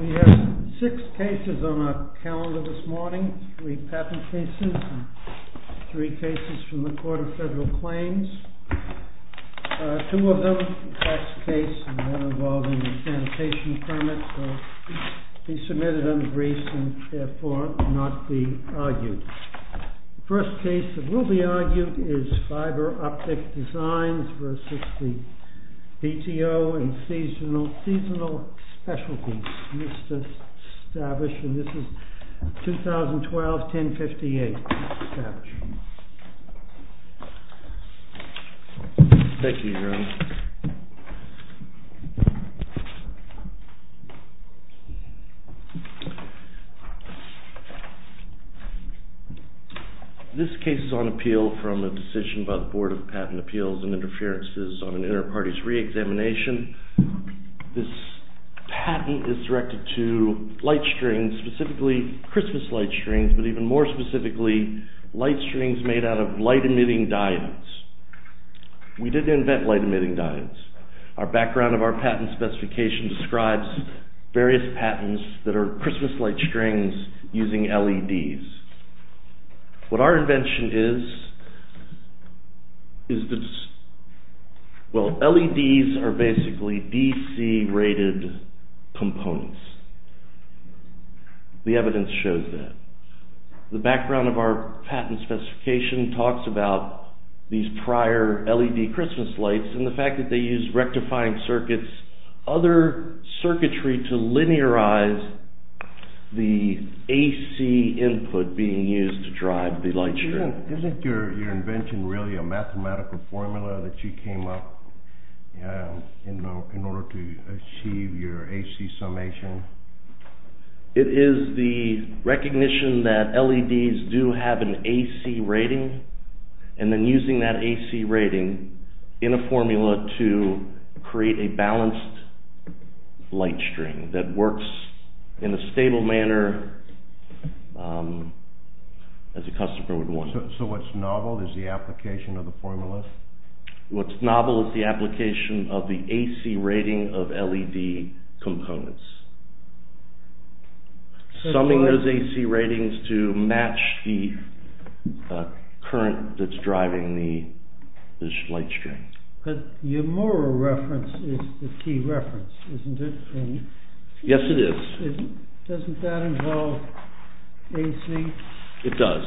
We have six cases on our calendar this morning, three patent cases and three cases from the Court of Federal Claims. Two of them, the first case involving sanitation permits, will be submitted under briefs and therefore not be argued. The first case that will be argued is FIBER OPTIC Designs v. BTO in Seasonal Specialties. This is established in 2012-10-58. This case is on appeal from a decision by the Board of Patent Appeals and Interferences on an inter-parties re-examination. This patent is directed to light strings, specifically Christmas light strings, but even more specifically, light strings made out of light-emitting diodes. We did invent light-emitting diodes. Our background of our patent specification describes various patents that are Christmas light strings using LEDs. What our invention is, is that LEDs are basically DC rated components. The evidence shows that. The background of our patent specification talks about these prior LED Christmas lights and the fact that they use rectifying circuits, other circuitry to linearize the AC input being used to drive the light string. Isn't your invention really a mathematical formula that you came up in order to achieve your AC summation? It is the recognition that LEDs do have an AC rating and then using that AC rating in a formula to create a balanced light string that works in a stable manner as a customer would want. So what's novel is the application of the formula? What's novel is the application of the AC rating of LED components. Summing those AC But your moral reference is the key reference, isn't it? Yes it is. Doesn't that involve AC? It does.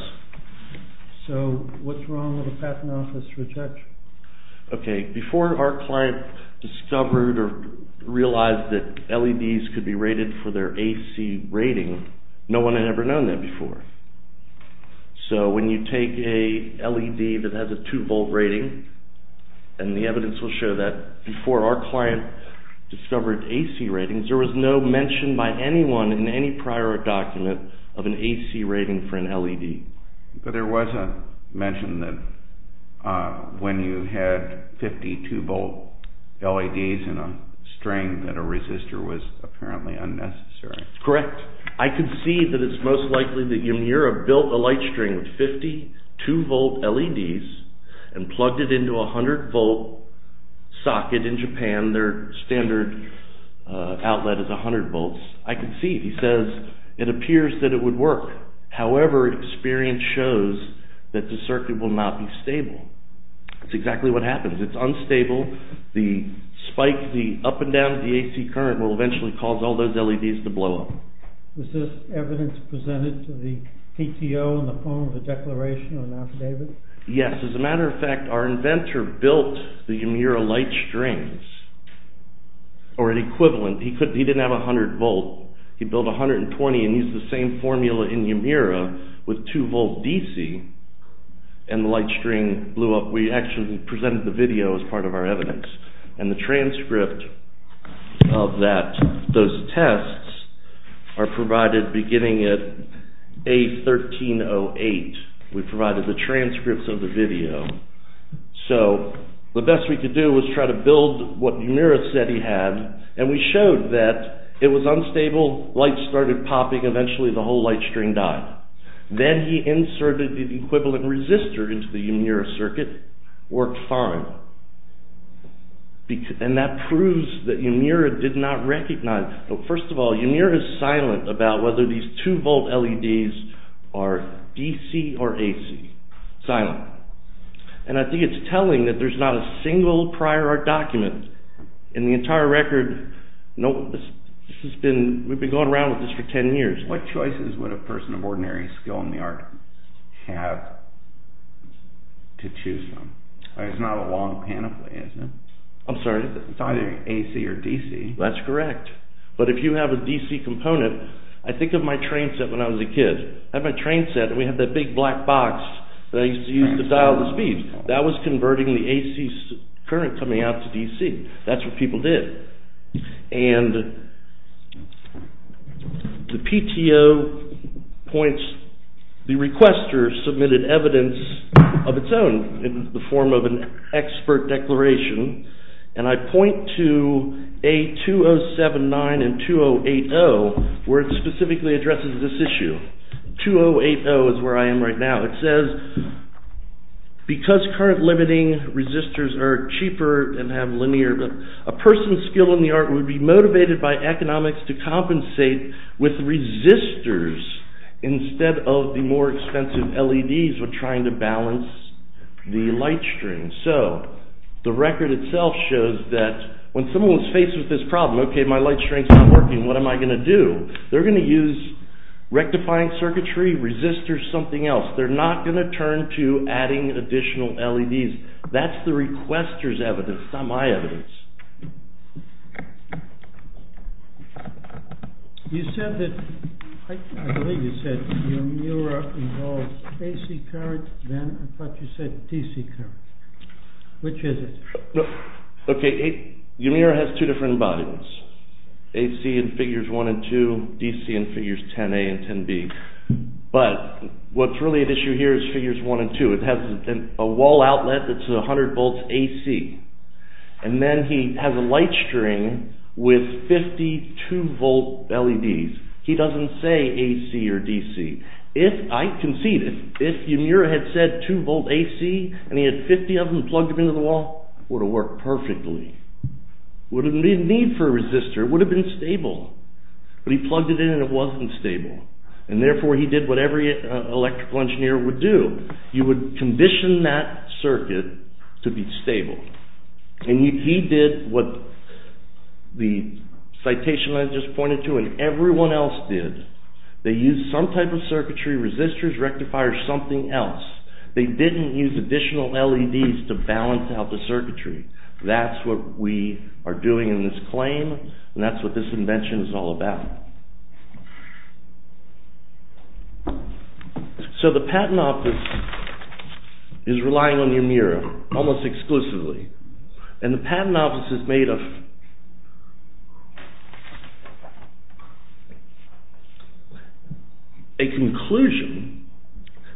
So what's wrong with a patent office rejection? Okay, before our client discovered or realized that LEDs could be rated for their AC rating, no one had ever known that before. So when you take a LED that has a 2 volt rating and the evidence will show that before our client discovered AC ratings, there was no mention by anyone in any prior document of an AC rating for an LED. But there was a mention that when you had 52 volt LEDs in a string that a resistor was apparently unnecessary. Correct. I could see that it's most likely that Yamura built a light string with 52 volt LEDs and plugged it into a 100 volt socket in Japan. Their standard outlet is 100 volts. I could see it. He says it appears that it would work. However, experience shows that the circuit will not be stable. That's exactly what happens. It's unstable. The spike, the up and down of the AC current will eventually cause all those LEDs to blow up. Was this evidence presented to the PTO in the form of a declaration or an affidavit? Yes. As a matter of fact, our inventor built the Yamura light strings or an equivalent. He didn't have a 100 volt. He built 120 and used the same formula in Yamura with 2 volt DC and the light string blew up. We actually presented the video as part of our evidence and the transcript of those tests are provided beginning at A1308. We provided the transcripts of the video. So, the best we could do was try to build what Yamura said he had and we showed that it was unstable, light started popping, eventually the whole light string died. Then he inserted the equivalent resistor into the Yamura circuit, worked fine. And that proves that Yamura did not recognize. First of all, Yamura is silent about whether these 2 volt LEDs are DC or AC. Silent. And I think it's telling that there's not a single prior art document in the entire record. We've been going around with this for 10 years. What choices would a person of ordinary skill in the art have to choose from? It's not a long panoply, is it? I'm sorry? It's either AC or DC. That's correct. But if you have a DC component, I think of my train set when I was a kid. I had my train set and we had that big black box that I used to dial the speeds. That was The requester submitted evidence of its own in the form of an expert declaration and I point to A2079 and 2080 where it specifically addresses this issue. 2080 is where I am right now. It says, because current limiting resistors are cheaper and have linear, a person's skill in the art would be motivated by economics to compensate with resistors instead of the more expensive LEDs when trying to balance the light string. So, the record itself shows that when someone's faced with this problem, okay, my light string's not working, what am I going to do? They're going to use rectifying circuitry, resistors, something else. They're not going to turn to adding additional LEDs. That's the requester's evidence, not my evidence. You said that, I believe you said your mirror involves AC current, then I thought you said DC current. Which is it? Okay, your mirror has two different bodies. AC in figures 1 and 2, DC in figures 10A and 10B. But what's really at issue here is figures 1 and 2. It has a wall outlet that's 100 volts AC. And then he has a light string with 52 volt LEDs. He doesn't say AC or DC. If, I concede, if your mirror had said 2 volt AC and he had 50 of them plugged into the wall, it would have worked perfectly. There wouldn't be a need for a resistor, it would have been stable. But he plugged it in and it wasn't stable. And therefore he did what every electrical engineer would do. You would condition that circuit to be stable. And he did what the citation I just pointed to and everyone else did. They used some type of circuitry, resistors, rectifiers, something else. They didn't use additional LEDs to balance out the circuitry. That's what we are doing in this claim and that's what this invention is all about. So the patent office is relying on Yamira almost exclusively. And the patent office is made of a conclusion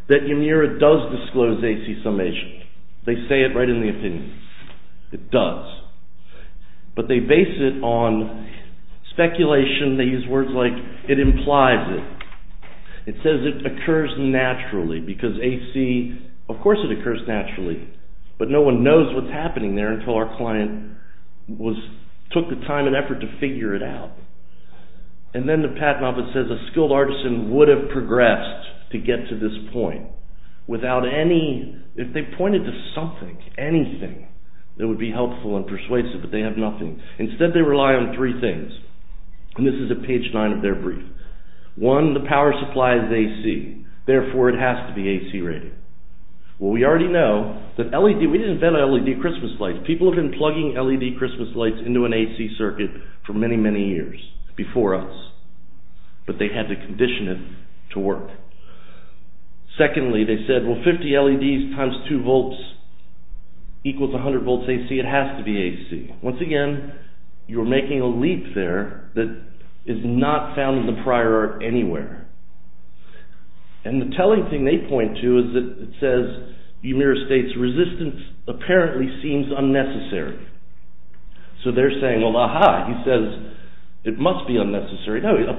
that Yamira does disclose AC summation. They say it right in the opinion. It does. But they base it on speculation. They use words like it implies it. It says it occurs naturally because AC, of course it occurs naturally, but no one knows what's happening there until our client took the time and effort to figure it out. And then the patent office says a skilled artisan would have progressed to get to this point without any, if they pointed to something, anything that would be helpful and persuasive, but they have nothing. Instead they rely on three things. And this is at page nine of their brief. One, the power supply is AC. Therefore it has to be AC rated. Well we already know that LED, we didn't invent LED Christmas lights. People have been plugging LED Christmas lights into an AC circuit for many, many years before us. But they had to condition it to work. Secondly, they said, well 50 LEDs times 2 volts equals 100 volts AC. It has to be AC. Once again, you're making a leap there that is not found in the prior art anywhere. And the telling thing they point to is that it says Yamira states resistance apparently seems unnecessary. So they're saying, well aha, he says it must be unnecessary. No, it isn't.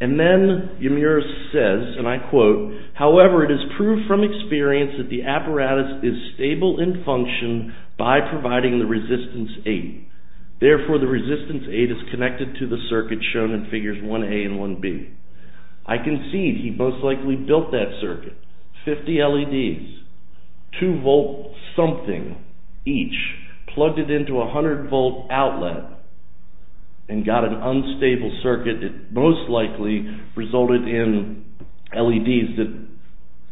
And then Yamira says, and I quote, however it is proved from experience that the apparatus is stable in function by providing the resistance 8. Therefore the resistance 8 is connected to the circuit shown in figures 1A and 1B. I concede he most likely built that circuit. 50 LEDs, 2 volt something each, plugged it into a 100 volt outlet and got an unstable circuit that most likely resulted in LEDs that,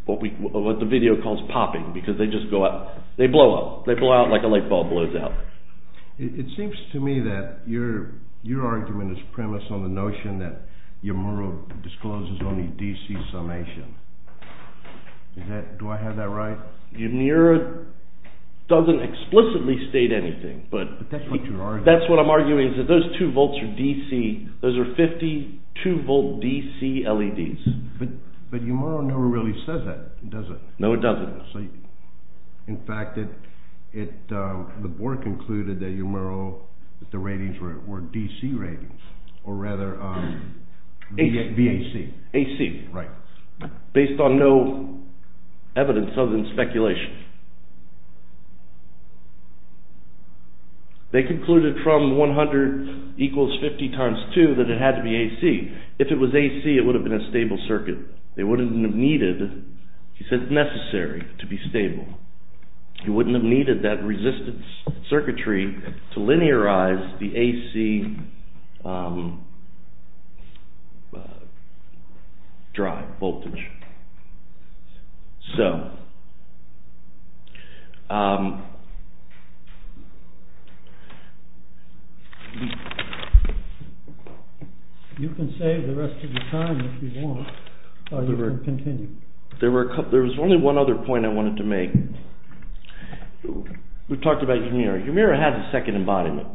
what the video calls popping because they just go out. They blow up. They blow out like a light bulb blows out. It seems to me that your argument is premised on the notion that Yamira discloses only DC summation. Do I have that right? Yamira doesn't explicitly state anything. But that's what your argument is that those 2 volts are DC. Those are 52 volt DC LEDs. But Yamira never really says that, does it? No, it doesn't. In fact, the board concluded that Yamira, that the ratings were DC ratings or rather VAC. AC. Right. Based on no evidence other than speculation. They concluded from 100 equals 50 times 2 that it had to be AC. If it was AC it would have been a stable circuit. They wouldn't have needed, he said necessary to be stable. He wouldn't have needed that resistance circuitry to linearize the AC drive voltage. You can save the rest of the time if you want or you can continue. There was only one other point I wanted to make. We've talked about Yamira. Yamira has a second embodiment.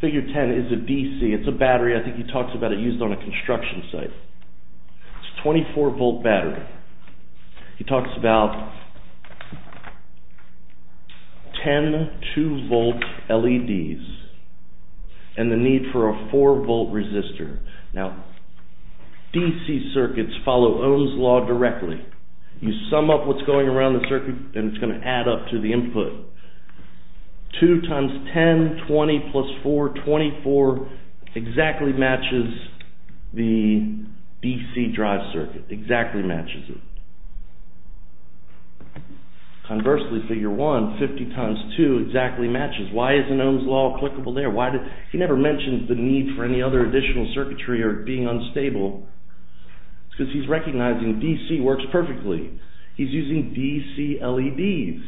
Figure 10 is a DC. It's a battery. I think he talks about it used on a construction site. It's a 24 volt battery. He talks about 10 2 volt LEDs and the need for a 4 volt resistor. Now, DC circuits follow Ohm's Law directly. You sum up what's going around the circuit and it's going to add up to the input. 2 times 10, 20 plus 4, 24 exactly matches the DC drive circuit. Exactly matches it. Conversely, figure 1, 50 times 2 exactly matches. Why isn't Ohm's Law applicable there? He never mentioned the need for any other additional circuitry or being unstable because he's recognizing DC works perfectly. He's using DC LEDs.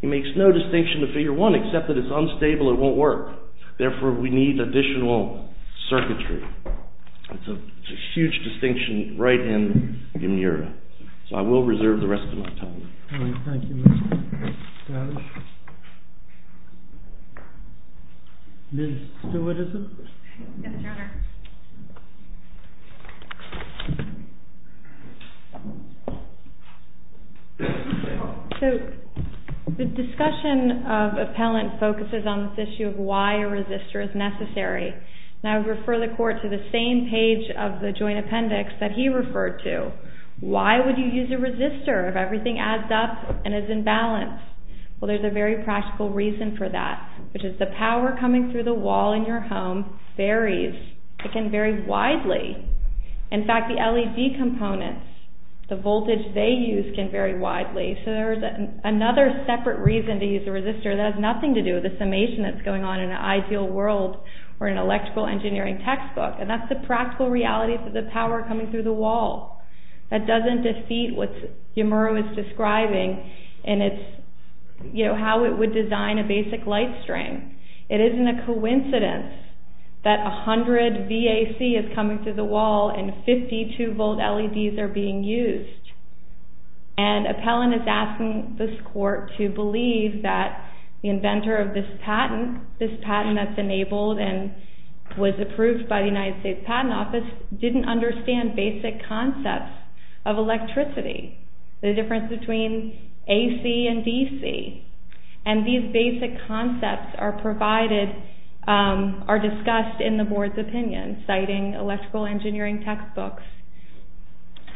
He makes no distinction to figure 1 except that it's unstable, it won't work. Therefore, we need additional circuitry. It's a huge distinction right in Yamira. I will reserve the rest of my time. The discussion of appellant focuses on this issue of why a resistor is necessary. I refer the court to the same page of the joint appendix that he referred to. Why would you use a resistor if everything adds up and is in balance? Well, there's a very practical reason for that, which is the power coming through the wall in your home varies. It can vary widely. In fact, the LED components, the voltage they use can vary widely. There's another separate reason to use a resistor that has nothing to do with the summation that's going on in the textbook. That's the practical reality for the power coming through the wall. That doesn't defeat what Yamira was describing in how it would design a basic light string. It isn't a coincidence that 100 VAC is coming through the wall and 52 volt LEDs are being used. Appellant is asking this court to believe that the inventor of this patent, this patent that's enabled and was approved by the United States Patent Office, didn't understand basic concepts of electricity, the difference between AC and DC. These basic concepts are discussed in the board's opinion, citing electrical engineering textbooks.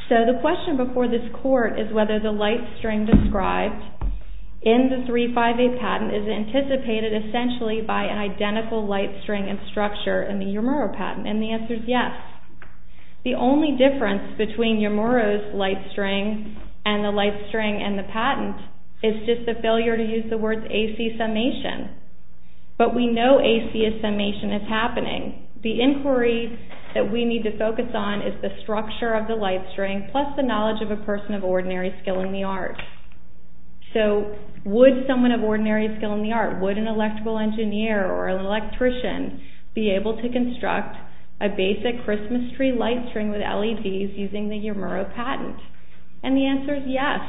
The question before this court is whether the light string described in the 358 patent is anticipated essentially by an identical light string and structure in the Yamira patent. And the answer is yes. The only difference between Yamira's light string and the light string in the patent is just the failure to use the words AC summation. But we know AC summation is happening. The inquiry that we need to focus on is the structure of the light string plus the knowledge of a person of ordinary skill in the arts. So would someone of ordinary skill in the arts, would an electrical engineer or an electrician be able to construct a basic Christmas tree light string with LEDs using the Yamira patent? And the answer is yes.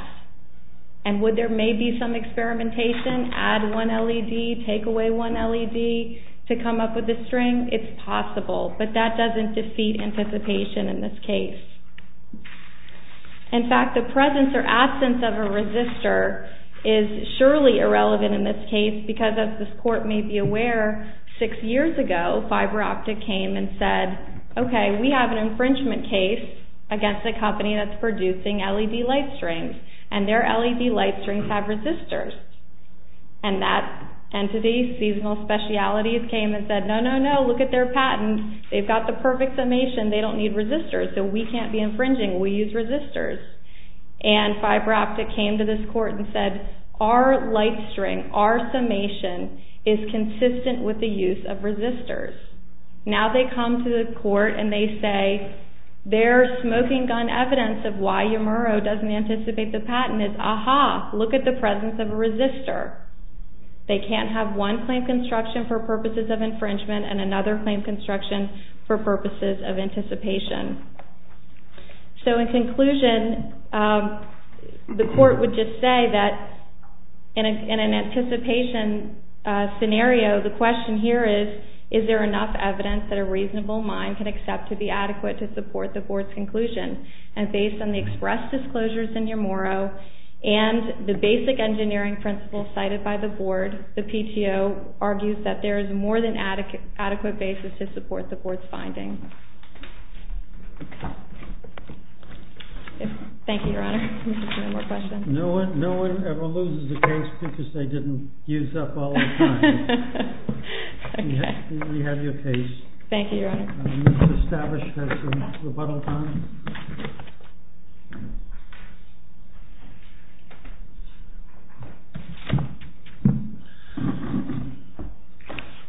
And would there maybe some experimentation, add one LED, take away one LED to come up with a string? It's possible. But that doesn't defeat anticipation in this case. In fact, the presence or absence of a resistor is surely irrelevant in this case because, as this court may be aware, six years ago, FiberOptic came and said, OK, we have an infringement case against a company that's producing LED light strings. And their LED light strings have resistors. And that entity, Seasonal Specialities, came and said, no, no, no, look at their patent. They've got the perfect summation. They don't need resistors. So we can't be infringing. We'll use resistors. And FiberOptic came to this court and said, our light string, our summation, is consistent with the use of resistors. Now they come to the court and they say their smoking gun evidence of why Yamira doesn't anticipate the patent is, aha, look at the presence of a resistor. They can't have one claim construction for purposes of infringement and another claim construction for purposes of anticipation. So in conclusion, the court would just say that in an anticipation scenario, the question here is, is there enough evidence that a reasonable mind can accept to be adequate to support the board's conclusion? And based on the express disclosures in Yamora and the basic engineering principles cited by the board, the PTO argues that there is more than adequate basis to support the board's finding. Thank you, Your Honor. No one ever loses a case because they didn't use up all their time. We have your case. Thank you, Your Honor. The minutes established as rebuttal time.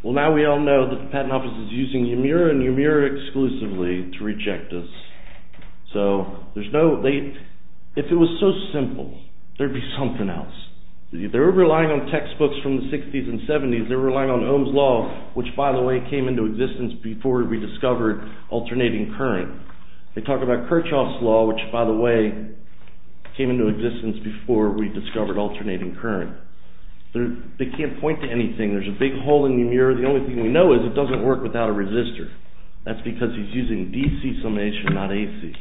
Well, now we all know that the Patent Office is using Yamira and Yamira exclusively to reject us. So, there's no, if it was so simple, there'd be something else. If they were relying on textbooks from the 60s and 70s, they were relying on Ohm's Law, which, by the way, came into existence before we discovered alternating current. They talk about Kirchhoff's Law, which, by the way, came into existence before we discovered alternating current. They can't point to anything. There's a big hole in the mirror. The only thing we know is it doesn't work without a resistor. That's because he's using DC summation, not AC.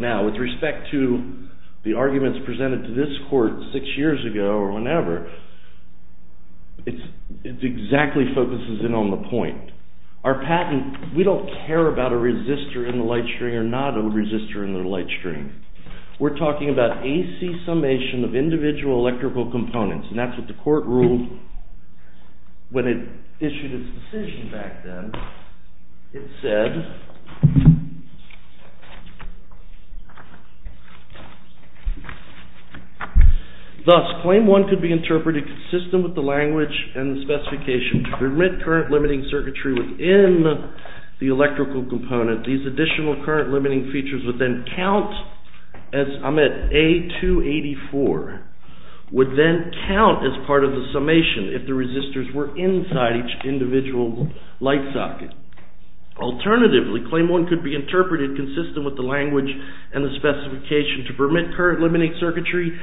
Now, with respect to the arguments presented to this court six years ago or whenever, it exactly focuses in on the point. Our patent, we don't care about a resistor in the light string or not a resistor in the light string. We're talking about AC summation of individual electrical components, and that's what the court ruled when it issued its decision back then. It said, Thus, claim one could be interpreted consistent with the language and the specification to permit current-limiting circuitry within the electrical component. These additional current-limiting features would then count as, I'm at A284, would then count as part of the summation if the resistors were inside each individual light socket. Alternatively, claim one could be interpreted consistent with the language and the specification to permit current-limiting circuitry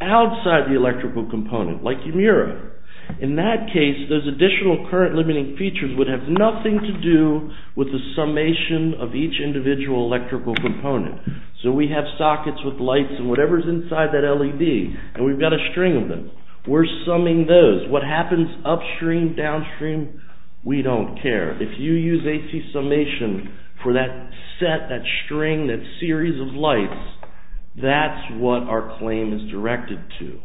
outside the electrical component, like your mirror. In that case, those additional current-limiting features would have nothing to do with the summation of each individual electrical component. So we have sockets with lights and whatever's inside that LED, and we've got a string of them. We're summing those. What happens upstream, downstream, we don't care. If you use AC summation for that set, that string, that series of lights, that's what our claim is directed to.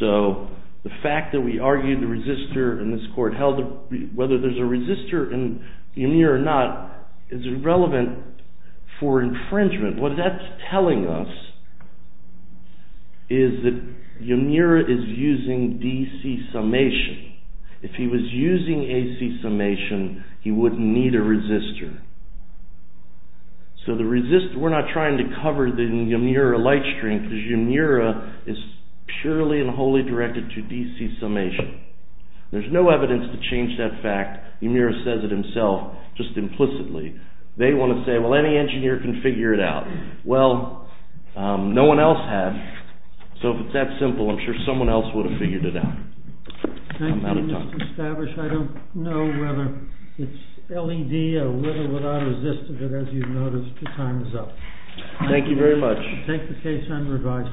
So the fact that we argued the resistor in this court, whether there's a resistor in here or not, is irrelevant for infringement. What that's telling us is that Yamira is using DC summation. If he was using AC summation, he wouldn't need a resistor. So the resistor, we're not trying to cover the Yamira light string, because Yamira is purely and wholly directed to DC summation. There's no evidence to change that fact. Yamira says it himself, just implicitly. They want to say, well, any engineer can figure it out. Well, no one else has. So if it's that simple, I'm sure someone else would have figured it out. I'm out of time. Thank you, Mr. Stavish. I don't know whether it's LED or whether without a resistor, but as you've noticed, your time is up. Thank you very much. Take the case and revise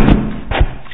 it.